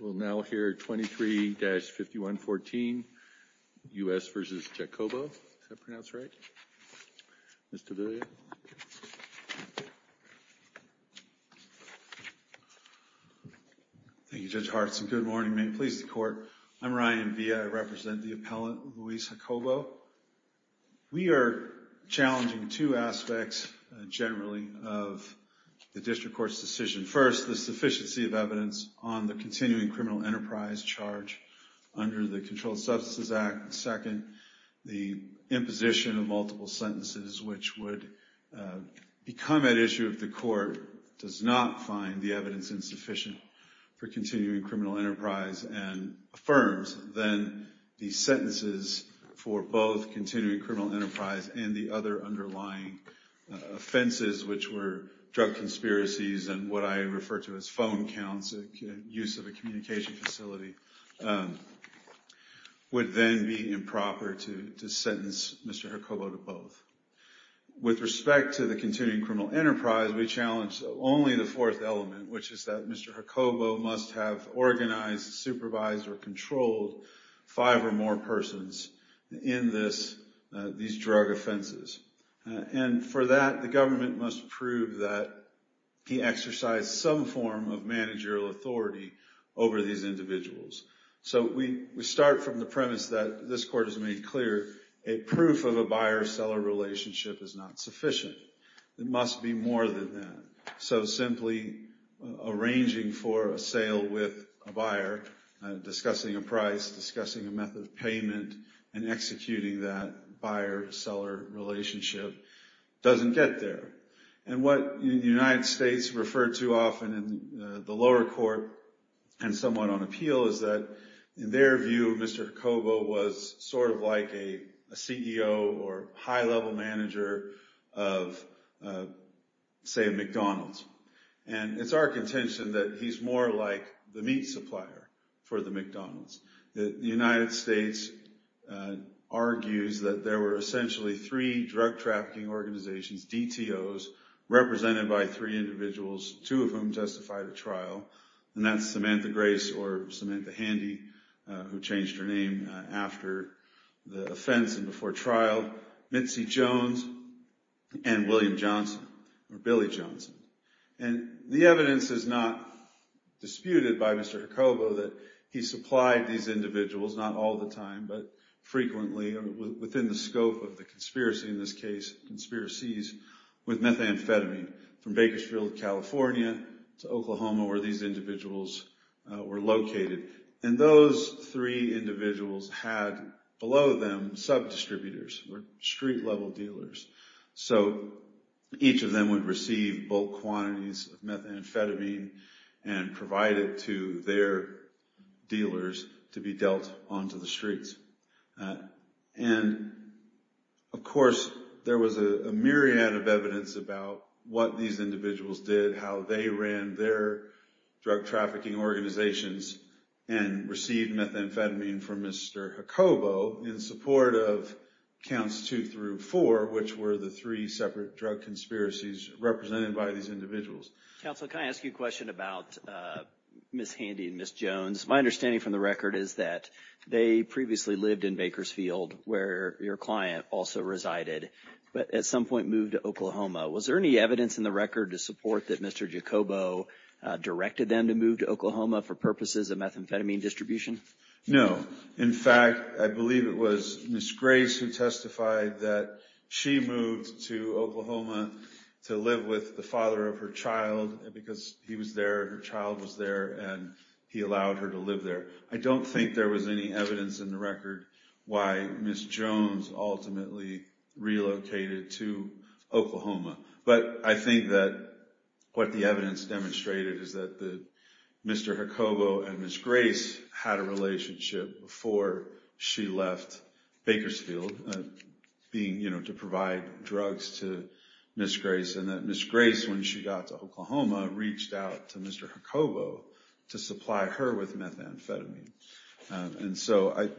We'll now hear 23-5114, U.S. v. Jacobo, is that pronounced right, Mr. Villa? Thank you Judge Hartson. Good morning and may it please the Court. I'm Ryan Villa. I represent the appellant, Luis Jacobo. So, we are challenging two aspects, generally, of the District Court's decision. First, the sufficiency of evidence on the continuing criminal enterprise charge under the Controlled Substances Act. Second, the imposition of multiple sentences, which would become at issue if the Court does not find the evidence insufficient for continuing criminal enterprise and affirms then the sentences for both continuing criminal enterprise and the other underlying offenses, which were drug conspiracies and what I refer to as phone counts, use of a communication facility, would then be improper to sentence Mr. Jacobo to both. With respect to the continuing criminal enterprise, we challenge only the fourth element, which is that Mr. Jacobo must have organized, supervised, or controlled five or more persons in these drug offenses. And for that, the government must prove that he exercised some form of managerial authority over these individuals. So we start from the premise that this Court has made clear, a proof of a buyer-seller relationship is not sufficient. It must be more than that. So simply arranging for a sale with a buyer, discussing a price, discussing a method of payment, and executing that buyer-seller relationship doesn't get there. And what the United States referred to often in the lower court and somewhat on appeal is that, in their view, Mr. Jacobo was sort of like a CEO or high-level manager of, say, McDonald's. And it's our contention that he's more like the meat supplier for the McDonald's. The United States argues that there were essentially three drug trafficking organizations, DTOs, represented by three individuals, two of whom testified at trial, and that's Samantha Grace or Samantha Handy, who changed her name after the offense and before trial, Mitzi Jones, and William Johnson, or Billy Johnson. And the evidence is not disputed by Mr. Jacobo that he supplied these individuals, not all the time, but frequently, within the scope of the conspiracy in this case, conspiracies with methamphetamine, from Bakersfield, California, to Oklahoma, where these individuals were located. And those three individuals had, below them, sub-distributors, or street-level dealers. So each of them would receive bulk quantities of methamphetamine and provide it to their dealers to be dealt onto the streets. And of course, there was a myriad of evidence about what these individuals did, how they ran their drug trafficking organizations and received methamphetamine from Mr. Jacobo in support of counts two through four, which were the three separate drug conspiracies represented by these individuals. Counsel, can I ask you a question about Ms. Handy and Ms. Jones? My understanding from the record is that they previously lived in Bakersfield, where your client also resided, but at some point moved to Oklahoma. Was there any evidence in the record to support that Mr. Jacobo directed them to move to Oklahoma for purposes of methamphetamine distribution? No. In fact, I believe it was Ms. Grace who testified that she moved to Oklahoma to live with the father of her child, because he was there, her child was there, and he allowed her to live there. I don't think there was any evidence in the record why Ms. Jones ultimately relocated to Oklahoma, but I think that what the evidence demonstrated is that Mr. Jacobo and Ms. Grace had a relationship before she left Bakersfield to provide drugs to Ms. Grace, and that Ms. Grace, when she got to Oklahoma, reached out to Mr. Jacobo to supply her with methamphetamine. And so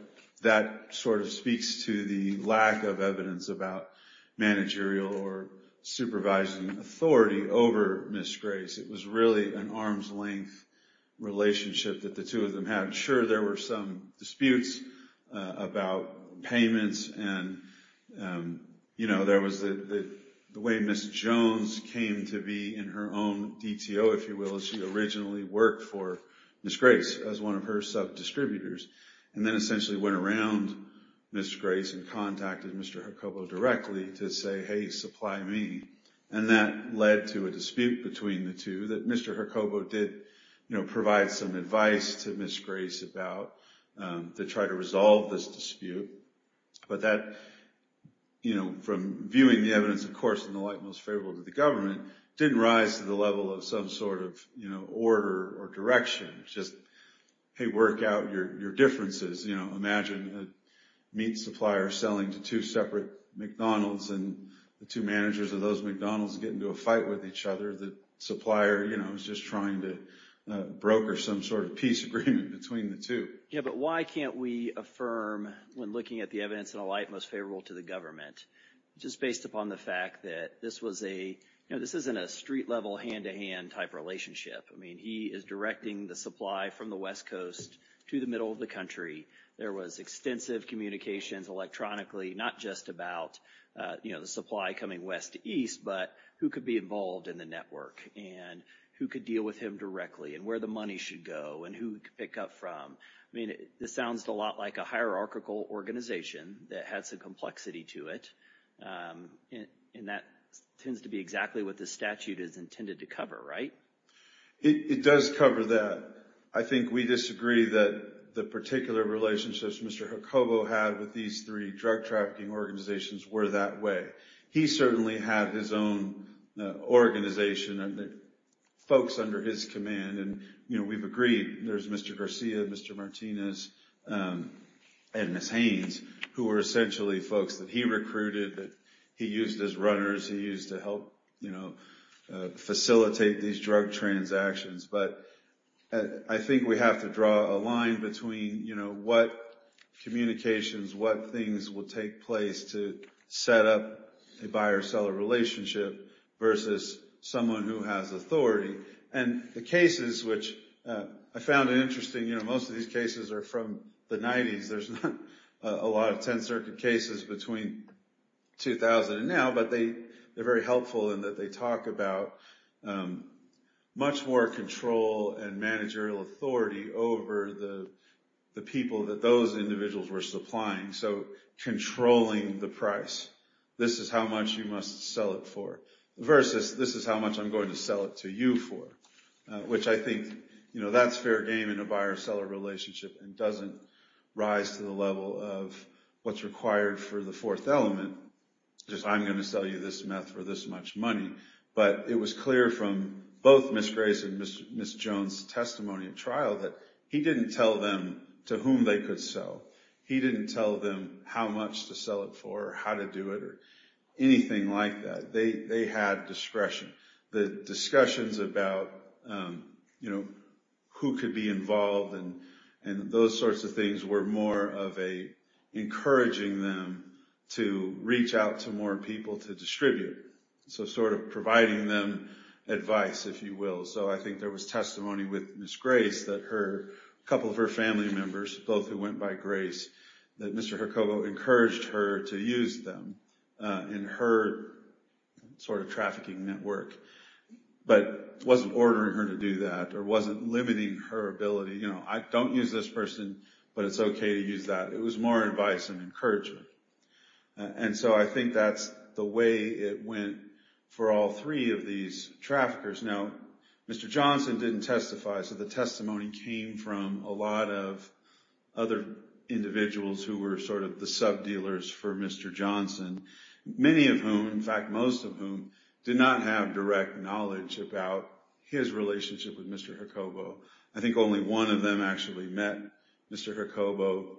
that sort of speaks to the lack of evidence about managerial or supervising authority over Ms. Grace. It was really an arm's-length relationship that the two of them had. Sure, there were some disputes about payments, and there was the way Ms. Jones came to be in her own DTO, if you will, as she originally worked for Ms. Grace as one of her sub-distributors, and then essentially went around Ms. Grace and contacted Mr. Jacobo directly to say, hey, supply me. And that led to a dispute between the two that Mr. Jacobo did provide some advice to Ms. Grace about to try to resolve this dispute. But that, from viewing the evidence, of course, in the light most favorable to the government, didn't rise to the level of some sort of order or direction. Just, hey, work out your differences. Imagine a meat supplier selling to two separate McDonald's, and the two managers of those McDonald's get into a fight with each other. The supplier is just trying to broker some sort of peace agreement between the two. Yeah, but why can't we affirm, when looking at the evidence in a light most favorable to the government, just based upon the fact that this wasn't a street-level, hand-to-hand type relationship. I mean, he is directing the supply from the west coast to the middle of the country. There was extensive communications electronically, not just about the supply coming west to east, but who could be involved in the network, and who could deal with him directly, and where the money should go, and who he could pick up from. I mean, this sounds a lot like a hierarchical organization that had some complexity to it. And that tends to be exactly what this statute is intended to cover, right? It does cover that. I think we disagree that the particular relationships Mr. Jacobo had with these three drug trafficking organizations were that way. He certainly had his own organization, and the folks under his command, and we've agreed there's Mr. Garcia, Mr. Martinez, and Ms. Haynes, who were essentially folks that he recruited, that he used as runners, he used to help facilitate these drug transactions. But I think we have to draw a line between what communications, what things will take place to set up a buyer-seller relationship versus someone who has authority. And the cases, which I found interesting, most of these cases are from the 90s. There's not a lot of 10th Circuit cases between 2000 and now, but they're very helpful in that they talk about much more control and managerial authority over the people that those individuals were supplying. So controlling the price. This is how much you must sell it for, versus this is how much I'm going to sell it to you for, which I think that's fair game in a buyer-seller relationship and doesn't rise to the level of what's required for the fourth element, just I'm going to sell you this meth for this much money. But it was clear from both Ms. Grace and Ms. Jones' testimony at trial that he didn't tell them to whom they could sell. He didn't tell them how much to sell it for, how to do it, or anything like that. They had discretion. The discussions about who could be involved and those sorts of things were more of encouraging them to reach out to more people to distribute. So sort of providing them advice, if you will. So I think there was testimony with Ms. Grace that a couple of her family members, both who went by Grace, that Mr. Hercogo encouraged her to use them in her sort of trafficking network, but wasn't ordering her to do that or wasn't limiting her ability. I don't use this person, but it's okay to use that. It was more advice and encouragement. And so I think that's the way it went for all three of these traffickers. Now Mr. Johnson didn't testify, so the testimony came from a lot of other individuals who were sort of the sub-dealers for Mr. Johnson, many of whom, in fact most of whom, did not have direct knowledge about his relationship with Mr. Hercogo. I think only one of them actually met Mr. Hercogo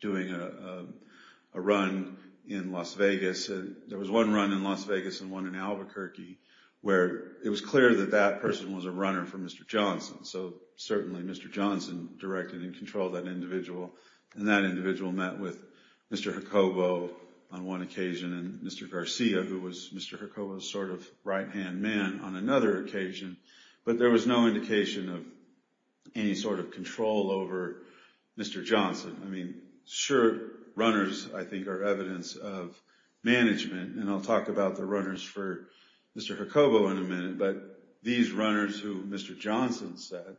doing a run in Las Vegas. There was one run in Las Vegas and one in Albuquerque where it was clear that that person was a runner for Mr. Johnson. So certainly Mr. Johnson directed and controlled that individual, and that individual met with Mr. Hercogo on one occasion and Mr. Garcia, who was Mr. Hercogo's sort of right-hand man, on another occasion, but there was no indication of any sort of control over Mr. Johnson. I mean, sure, runners, I think, are evidence of management, and I'll talk about the runners for Mr. Hercogo in a minute, but these runners who Mr. Johnson said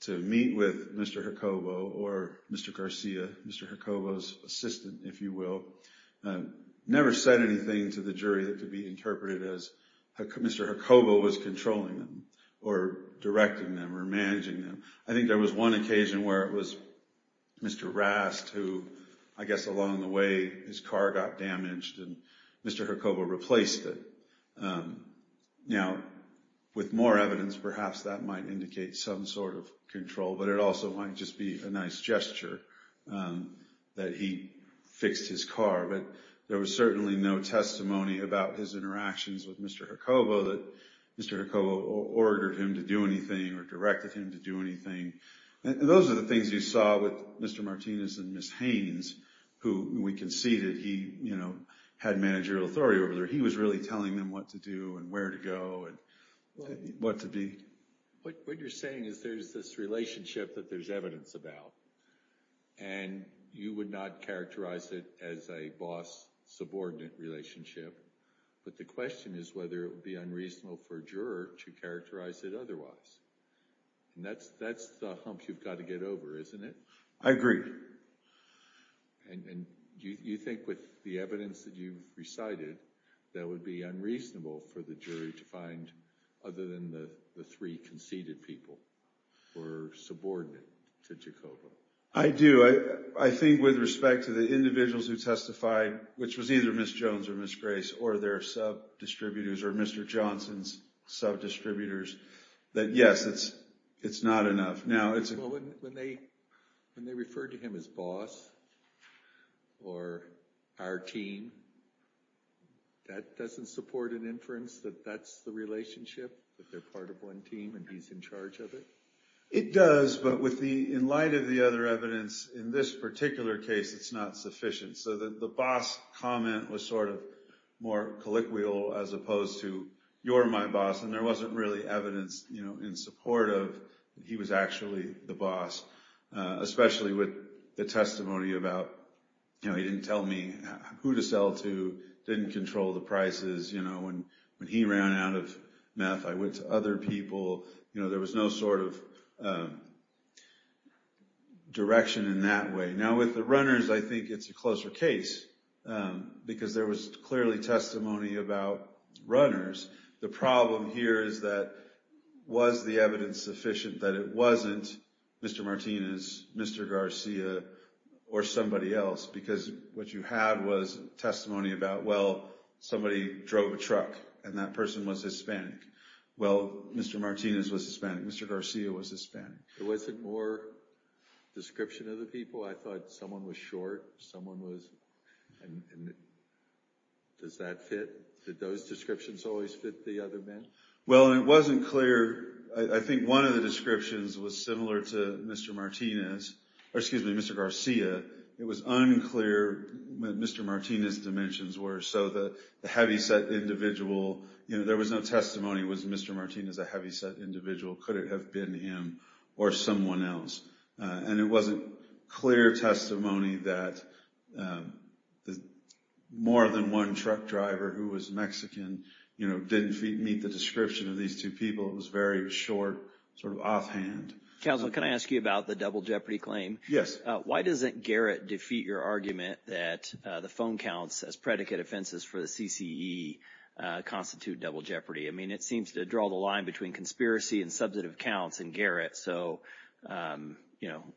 to meet with Mr. Hercogo or Mr. Garcia, Mr. Hercogo's assistant, if you will, never said anything to the jury that could be interpreted as Mr. Hercogo was controlling them or directing them or managing them. I think there was one occasion where it was Mr. Rast who, I guess along the way, his car got damaged and Mr. Hercogo replaced it. Now, with more evidence, perhaps that might indicate some sort of control, but it also might just be a nice gesture that he fixed his car, but there was certainly no testimony about his interactions with Mr. Hercogo that Mr. Hercogo ordered him to do anything or directed him to do anything. Those are the things you saw with Mr. Martinez and Ms. Haynes, who we can see that he had managerial authority over there. He was really telling them what to do and where to go and what to be. What you're saying is there's this relationship that there's evidence about and you would not characterize it as a boss-subordinate relationship, but the question is whether it would be unreasonable for a juror to characterize it otherwise. That's the hump you've got to get over, isn't it? I agree. You think with the evidence that you've recited, that would be unreasonable for the jury to find, other than the three conceded people who were subordinate to Jacobo. I do. I think with respect to the individuals who testified, which was either Ms. Jones or Ms. Grace or their sub-distributors or Mr. Johnson's sub-distributors, that yes, it's not enough. When they referred to him as boss or our team, that doesn't support an inference that that's the relationship, that they're part of one team and he's in charge of it? It does, but in light of the other evidence, in this particular case, it's not sufficient. The boss comment was more colloquial as opposed to, you're my boss, and there wasn't really evidence in support of he was actually the boss, especially with the testimony about he didn't tell me who to sell to, didn't control the prices, when he ran out of meth, I went to other people, there was no sort of direction in that way. Now with the runners, I think it's a closer case, because there was clearly testimony about runners. The problem here is that, was the evidence sufficient that it wasn't Mr. Martinez, Mr. Garcia, or somebody else? Because what you had was testimony about, well, somebody drove a truck, and that person was Hispanic, well, Mr. Martinez was Hispanic, Mr. Garcia was Hispanic. There wasn't more description of the people, I thought someone was short, someone was, does that fit, did those descriptions always fit the other men? Well, it wasn't clear, I think one of the descriptions was similar to Mr. Martinez, or excuse me, Mr. Garcia, it was unclear what Mr. Martinez' dimensions were, so the heavyset individual, there was no testimony, was Mr. Martinez a heavyset individual, could it have been him, or someone else? And it wasn't clear testimony that more than one truck driver who was Mexican didn't meet the description of these two people, it was very short, sort of offhand. Counsel, can I ask you about the double jeopardy claim? Yes. Why doesn't Garrett defeat your argument that the phone counts as predicate offenses for the CCE constitute double jeopardy? I mean, it seems to draw the line between conspiracy and substantive counts in Garrett, so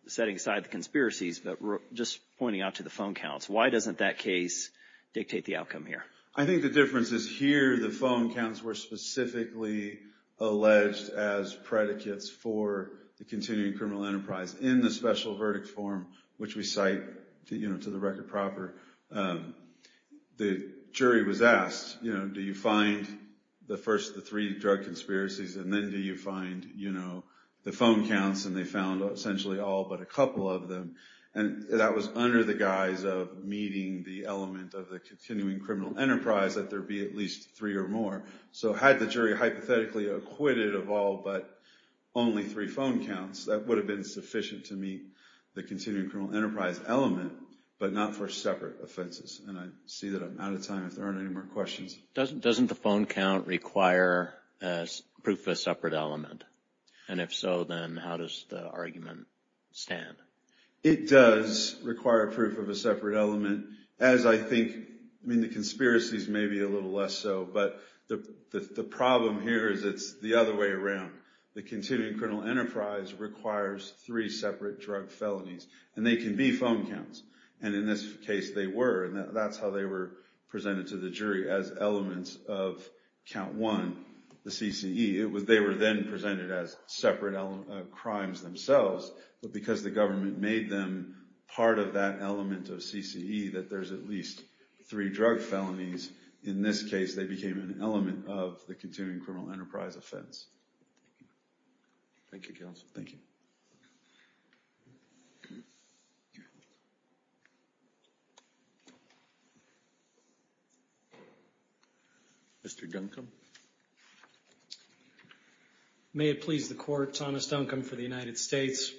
setting aside the conspiracies, but just pointing out to the phone counts, why doesn't that case dictate the outcome here? I think the difference is here, the phone counts were specifically alleged as predicates for the continuing criminal enterprise in the special verdict form, which we cite to the record proper. The jury was asked, do you find the first of the three drug conspiracies, and then do you find the phone counts, and they found essentially all but a couple of them. And that was under the guise of meeting the element of the continuing criminal enterprise, that there be at least three or more. So had the jury hypothetically acquitted of all but only three phone counts, that would have been sufficient to meet the continuing criminal enterprise element, but not for separate offenses. And I see that I'm out of time if there aren't any more questions. Doesn't the phone count require proof of a separate element? And if so, then how does the argument stand? It does require proof of a separate element, as I think, I mean the conspiracies may be a little less so, but the problem here is it's the other way around. The continuing criminal enterprise requires three separate drug felonies, and they can be phone counts. And in this case, they were, and that's how they were presented to the jury, as elements of count one, the CCE. They were then presented as separate crimes themselves, but because the government made them part of that element of CCE, that there's at least three drug felonies, in this case they became an element of the continuing criminal enterprise offense. Thank you, counsel. Mr. Duncombe? May it please the court, Thomas Duncombe for the United States.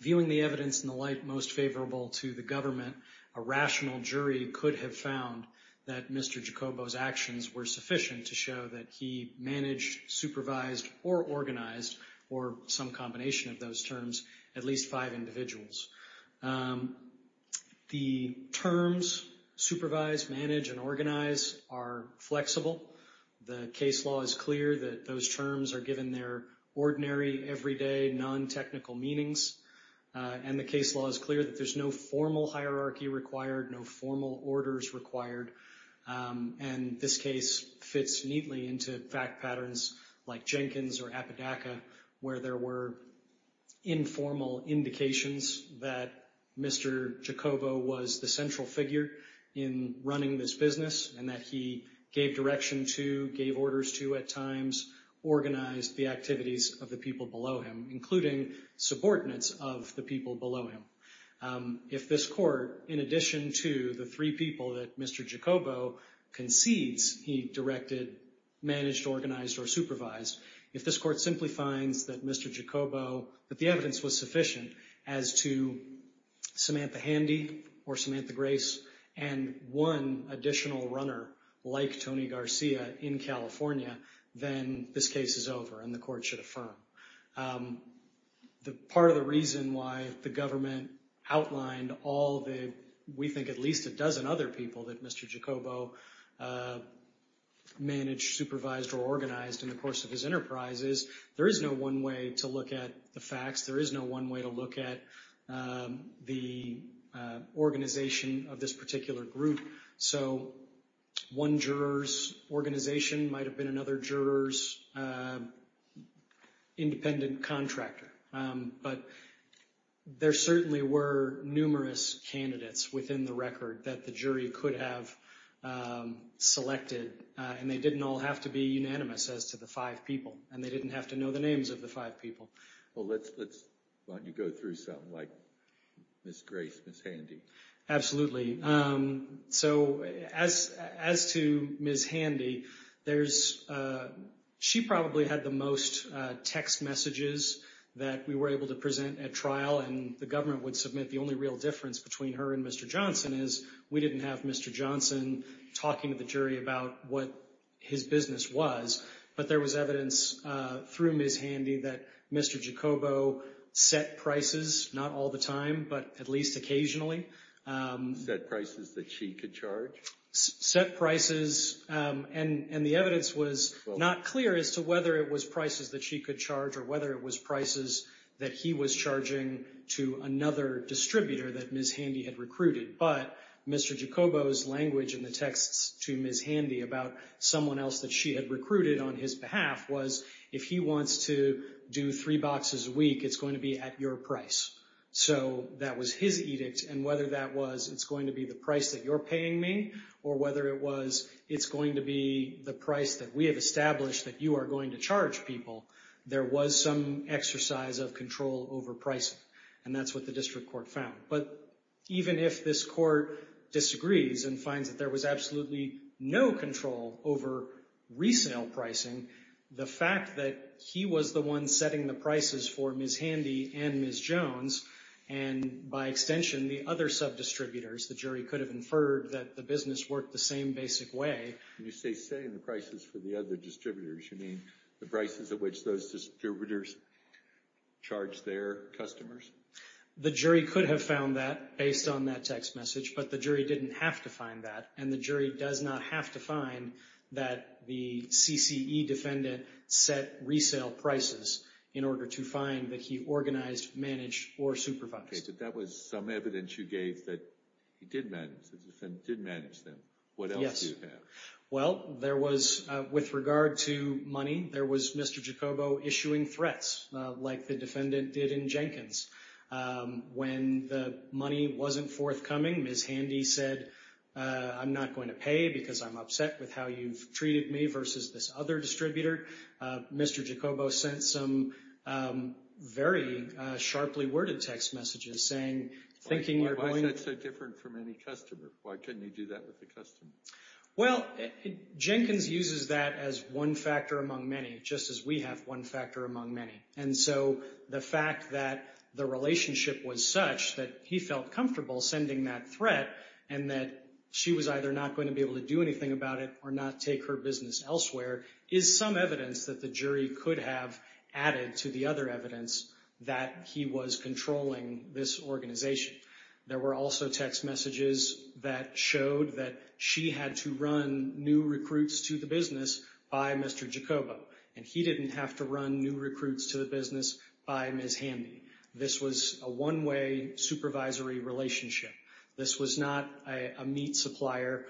Viewing the evidence in the light most favorable to the government, a rational jury could have found that Mr. Jacobo's actions were sufficient to show that he managed, supervised, or organized, or some combination of those terms, at least five individuals. The terms, supervise, manage, and organize, are flexible. The case law is clear that those terms are given their ordinary, everyday, non-technical meanings, and the case law is clear that there's no formal hierarchy required, no formal orders required, and this case fits neatly into fact patterns like Jenkins or Apodaca, where there were informal indications that Mr. Jacobo was the central figure in running this business and that he gave direction to, gave orders to at times, organized the activities of the people below him, including subordinates of the people below him. If this court, in addition to the three people that Mr. Jacobo concedes he directed, managed, organized, or supervised, if this court simply finds that Mr. Jacobo, that the evidence was sufficient as to Samantha Handy or Samantha Grace and one additional runner like Tony Garcia in California, then this case is over and the court should affirm. The part of the reason why the government outlined all the, we think at least a dozen other people that Mr. Jacobo managed, supervised, or organized in the course of his enterprises, there is no one way to look at the facts, there is no one way to look at the organization of this particular group. So one juror's organization might have been another juror's independent contractor, but there certainly were numerous candidates within the record that the jury could have selected and they didn't all have to be unanimous as to the five people and they didn't have to know the names of the five people. Well, let's let you go through something like Ms. Grace, Ms. Handy. Absolutely. So as to Ms. Handy, there's, she probably had the most text messages that we were able to present at trial and the government would submit the only real difference between her and Mr. Johnson is we didn't have Mr. Johnson talking to the jury about what his business was, but there was evidence through Ms. Handy that Mr. Jacobo set prices, not all the time, but at least occasionally. Set prices that she could charge? Set prices, and the evidence was not clear as to whether it was prices that she could charge or whether it was prices that he was charging to another distributor that Ms. Handy had recruited, but Mr. Jacobo's language in the texts to Ms. Handy about someone else that she had recruited on his behalf was if he wants to do three boxes a week, it's going to be at your price. So that was his edict and whether that was it's going to be the price that you're paying me or whether it was it's going to be the price that we have established that you are going to charge people, there was some exercise of control over pricing and that's what the district court found. But even if this court disagrees and finds that there was absolutely no control over resale pricing, the fact that he was the one setting the prices for Ms. Handy and Ms. Jones and by extension the other sub-distributors, the jury could have inferred that the business worked the same basic way. When you say setting the prices for the other distributors, you mean the prices at which those distributors charge their customers? The jury could have found that based on that text message, but the jury didn't have to find that and the jury does not have to find that the CCE defendant set resale prices in order to find that he organized, managed, or supervised. Okay, but that was some evidence you gave that he did manage, the defendant did manage them. Yes. What else do you have? Well, there was with regard to money, there was Mr. Jacobo issuing threats like the defendant did in Jenkins. When the money wasn't forthcoming, Ms. Handy said, I'm not going to pay because I'm upset with how you've treated me versus this other distributor. Mr. Jacobo sent some very sharply worded text messages saying, thinking you're going- Why is that so different from any customer? Why couldn't he do that with the customer? Well, Jenkins uses that as one factor among many, just as we have one factor among many. And so the fact that the relationship was such that he felt comfortable sending that threat and that she was either not going to be able to do anything about it or not take her business elsewhere is some evidence that the jury could have added to the other evidence that he was controlling this organization. There were also text messages that showed that she had to run new recruits to the business by Mr. Jacobo, and he didn't have to run new recruits to the business by Ms. Handy. This was a one-way supervisory relationship. This was not a meat supplier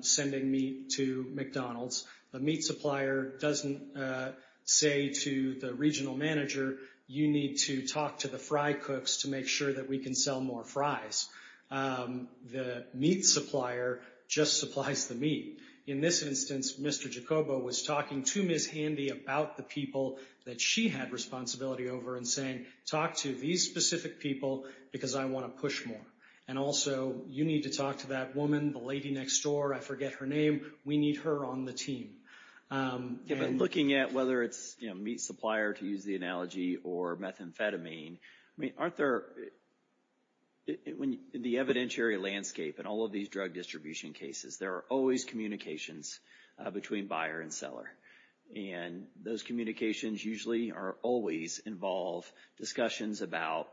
sending meat to McDonald's. The meat supplier doesn't say to the regional manager, you need to talk to the fry cooks to make sure that we can sell more fries. The meat supplier just supplies the meat. In this instance, Mr. Jacobo was talking to Ms. Handy about the people that she had responsibility over and saying, talk to these specific people because I want to push more. And also, you need to talk to that woman, the lady next door, I forget her name. We need her on the team. Yeah, but looking at whether it's meat supplier, to use the analogy, or methamphetamine, aren't there, in the evidentiary landscape in all of these drug distribution cases, there are always communications between buyer and seller. And those communications usually always involve discussions about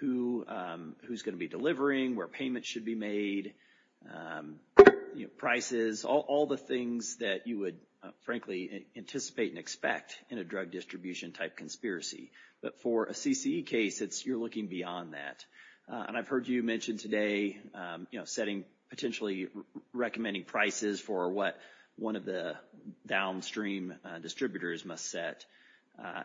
who's going to be delivering, where payments should be made, prices, all the things that you would, frankly, anticipate and expect in a drug distribution type conspiracy. But for a CCE case, you're looking beyond that. And I've heard you mention today, you know, setting, potentially recommending prices for what one of the downstream distributors must set.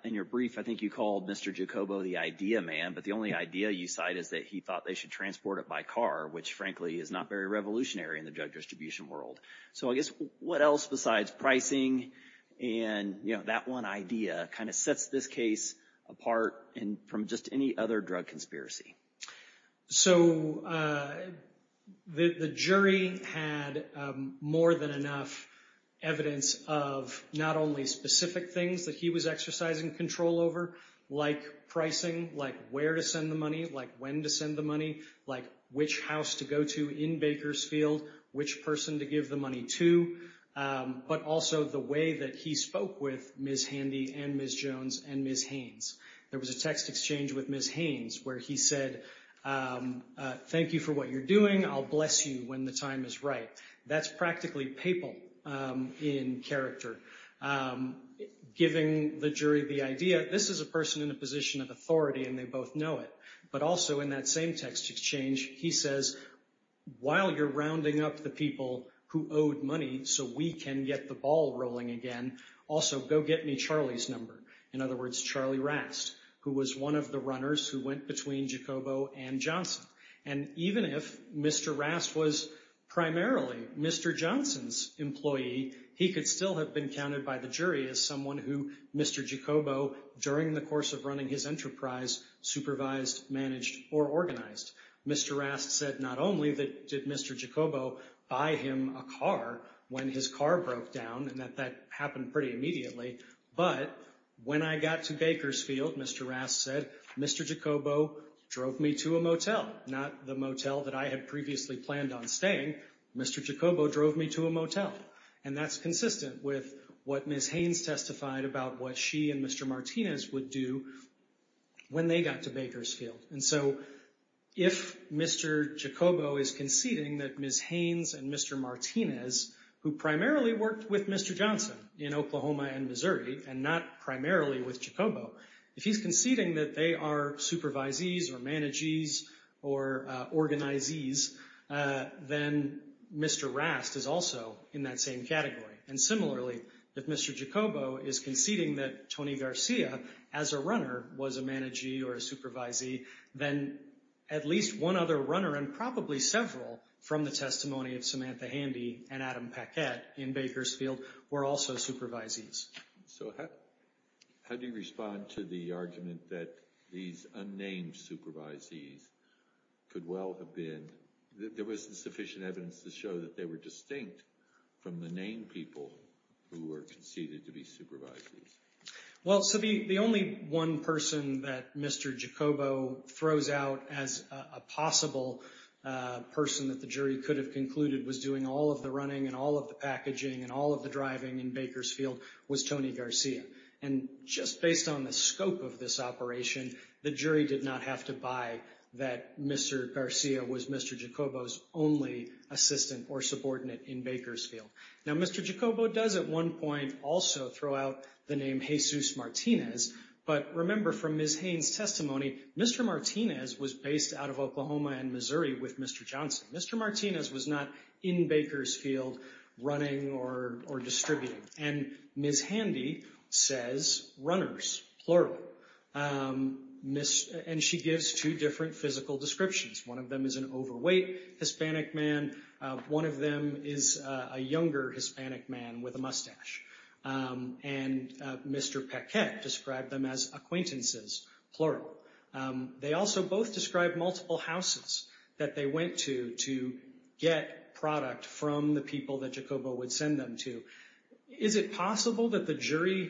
In your brief, I think you called Mr. Jacobo the idea man, but the only idea you cite is that he thought they should transport it by car, which frankly is not very revolutionary in the drug distribution world. So I guess what else besides pricing and, you know, that one idea kind of sets this case apart from just any other drug conspiracy. So the jury had more than enough evidence of not only specific things that he was exercising control over, like pricing, like where to send the money, like when to send the money, like which house to go to in Bakersfield, which person to give the money to. But also the way that he spoke with Ms. Handy and Ms. Jones and Ms. Haynes. There was a text exchange with Ms. Haynes where he said, thank you for what you're doing. I'll bless you when the time is right. That's practically papal in character, giving the jury the idea, this is a person in a position of authority and they both know it. But also in that same text exchange, he says, while you're rounding up the people who owed money so we can get the ball rolling again, also go get me Charlie's number. In other words, Charlie Rast, who was one of the runners who went between Giacobbo and And even if Mr. Rast was primarily Mr. Johnson's employee, he could still have been counted by the jury as someone who Mr. Giacobbo, during the course of running his enterprise, supervised, managed, or organized. Mr. Rast said not only did Mr. Giacobbo buy him a car when his car broke down, and that that happened pretty immediately, but when I got to Bakersfield, Mr. Rast said, Mr. Giacobbo drove me to a motel. Not the motel that I had previously planned on staying, Mr. Giacobbo drove me to a motel. And that's consistent with what Ms. Haynes testified about what she and Mr. Martinez would do when they got to Bakersfield. So if Mr. Giacobbo is conceding that Ms. Haynes and Mr. Martinez, who primarily worked with Mr. Johnson in Oklahoma and Missouri, and not primarily with Giacobbo, if he's conceding that they are supervisees or managees or organizees, then Mr. Rast is also in that same category. And similarly, if Mr. Giacobbo is conceding that Tony Garcia, as a runner, was a managee or a supervisee, then at least one other runner, and probably several from the testimony of Samantha Handy and Adam Paquette in Bakersfield, were also supervisees. So how do you respond to the argument that these unnamed supervisees could well have been, that there wasn't sufficient evidence to show that they were distinct from the named people who were conceded to be supervisees? Well, so the only one person that Mr. Giacobbo throws out as a possible person that the jury could have concluded was doing all of the running and all of the packaging and all of the driving in Bakersfield was Tony Garcia. And just based on the scope of this operation, the jury did not have to buy that Mr. Garcia was Mr. Giacobbo's only assistant or subordinate in Bakersfield. Now, Mr. Giacobbo does at one point also throw out the name Jesus Martinez. But remember from Ms. Haynes' testimony, Mr. Martinez was based out of Oklahoma and Missouri with Mr. Johnson. Mr. Martinez was not in Bakersfield running or distributing. And Ms. Handy says runners, plural. And she gives two different physical descriptions. One of them is an overweight Hispanic man. One of them is a younger Hispanic man with a mustache. And Mr. Paquette described them as acquaintances, plural. They also both described multiple houses that they went to to get product from the people that Giacobbo would send them to. Is it possible that the jury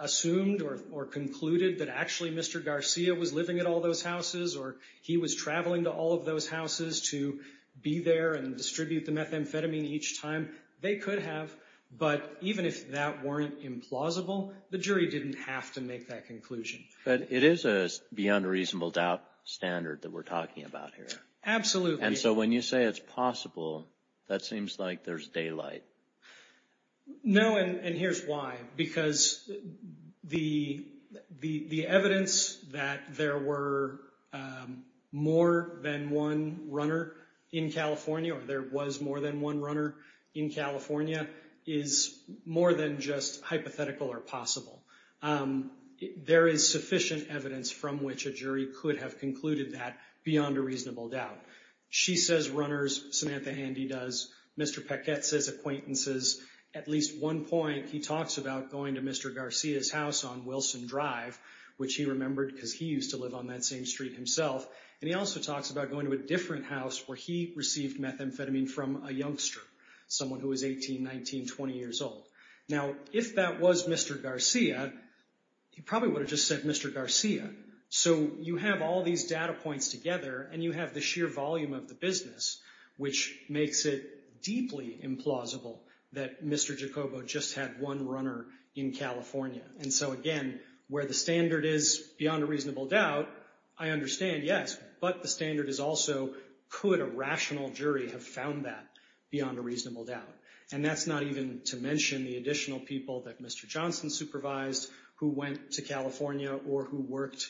assumed or concluded that actually Mr. Garcia was living at all those houses or he was traveling to all of those houses to be there and distribute the methamphetamine each time? They could have. But even if that weren't implausible, the jury didn't have to make that conclusion. But it is a beyond reasonable doubt standard that we're talking about here. Absolutely. And so when you say it's possible, that seems like there's daylight. No, and here's why. Because the evidence that there were more than one runner in California or there was more than one runner in California is more than just hypothetical or possible. There is sufficient evidence from which a jury could have concluded that beyond a reasonable doubt. She says runners. Samantha Handy does. Mr. Paquette says acquaintances. At least one point, he talks about going to Mr. Garcia's house on Wilson Drive, which he remembered because he used to live on that same street himself. And he also talks about going to a different house where he received methamphetamine from a youngster, someone who was 18, 19, 20 years old. Now, if that was Mr. Garcia, he probably would have just said Mr. Garcia. So you have all these data points together and you have the sheer volume of the business, which makes it deeply implausible that Mr. Jacobo just had one runner in California. And so again, where the standard is beyond a reasonable doubt, I understand, yes. But the standard is also, could a rational jury have found that beyond a reasonable doubt? And that's not even to mention the additional people that Mr. Johnson supervised who went to California or who worked,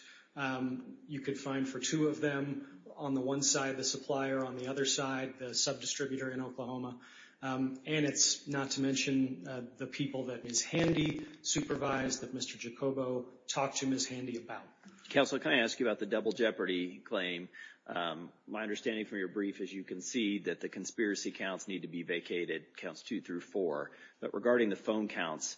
you could find for two of them on the one side of the supplier, on the other side, the subdistributor in Oklahoma. And it's not to mention the people that Ms. Handy supervised that Mr. Jacobo talked to Ms. Handy about. Counsel, can I ask you about the double jeopardy claim? My understanding from your brief, as you can see, that the conspiracy counts need to be vacated, counts two through four. But regarding the phone counts,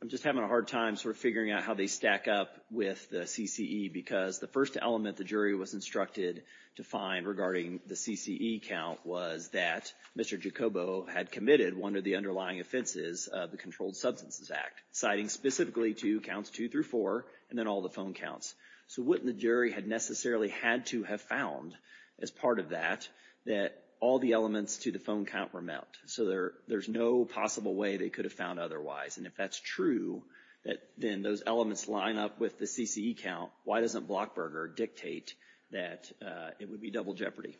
I'm just having a hard time sort of figuring out how they stack up with the CCE, because the first element the jury was instructed to find regarding the CCE count was that Mr. Jacobo had committed one of the underlying offenses of the Controlled Substances Act, citing specifically to counts two through four, and then all the phone counts. So wouldn't the jury had necessarily had to have found, as part of that, that all the elements to the phone count were met? So there's no possible way they could have found otherwise. And if that's true, that then those elements line up with the CCE count, why doesn't Blockberger dictate that it would be double jeopardy?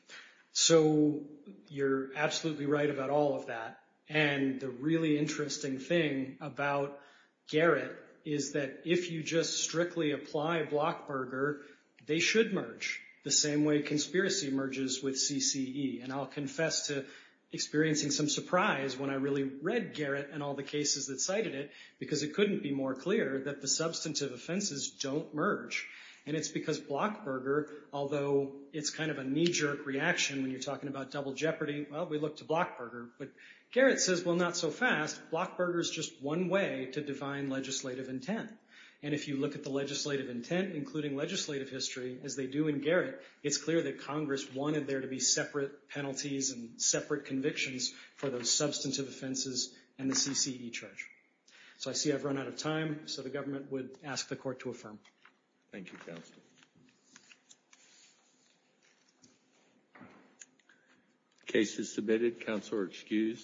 So you're absolutely right about all of that. And the really interesting thing about Garrett is that if you just strictly apply Blockberger, they should merge the same way conspiracy merges with CCE. And I'll confess to experiencing some surprise when I really read Garrett and all the cases that cited it, because it couldn't be more clear that the substantive offenses don't merge. And it's because Blockberger, although it's kind of a knee-jerk reaction when you're talking about double jeopardy, well, we look to Blockberger. But Garrett says, well, not so fast. Blockberger is just one way to define legislative intent. And if you look at the legislative intent, including legislative history, as they do in Garrett, it's clear that Congress wanted there to be separate penalties and separate convictions for those substantive offenses and the CCE charge. So I see I've run out of time. So the government would ask the court to affirm. Thank you, counsel. Case is submitted. Counsel are excused.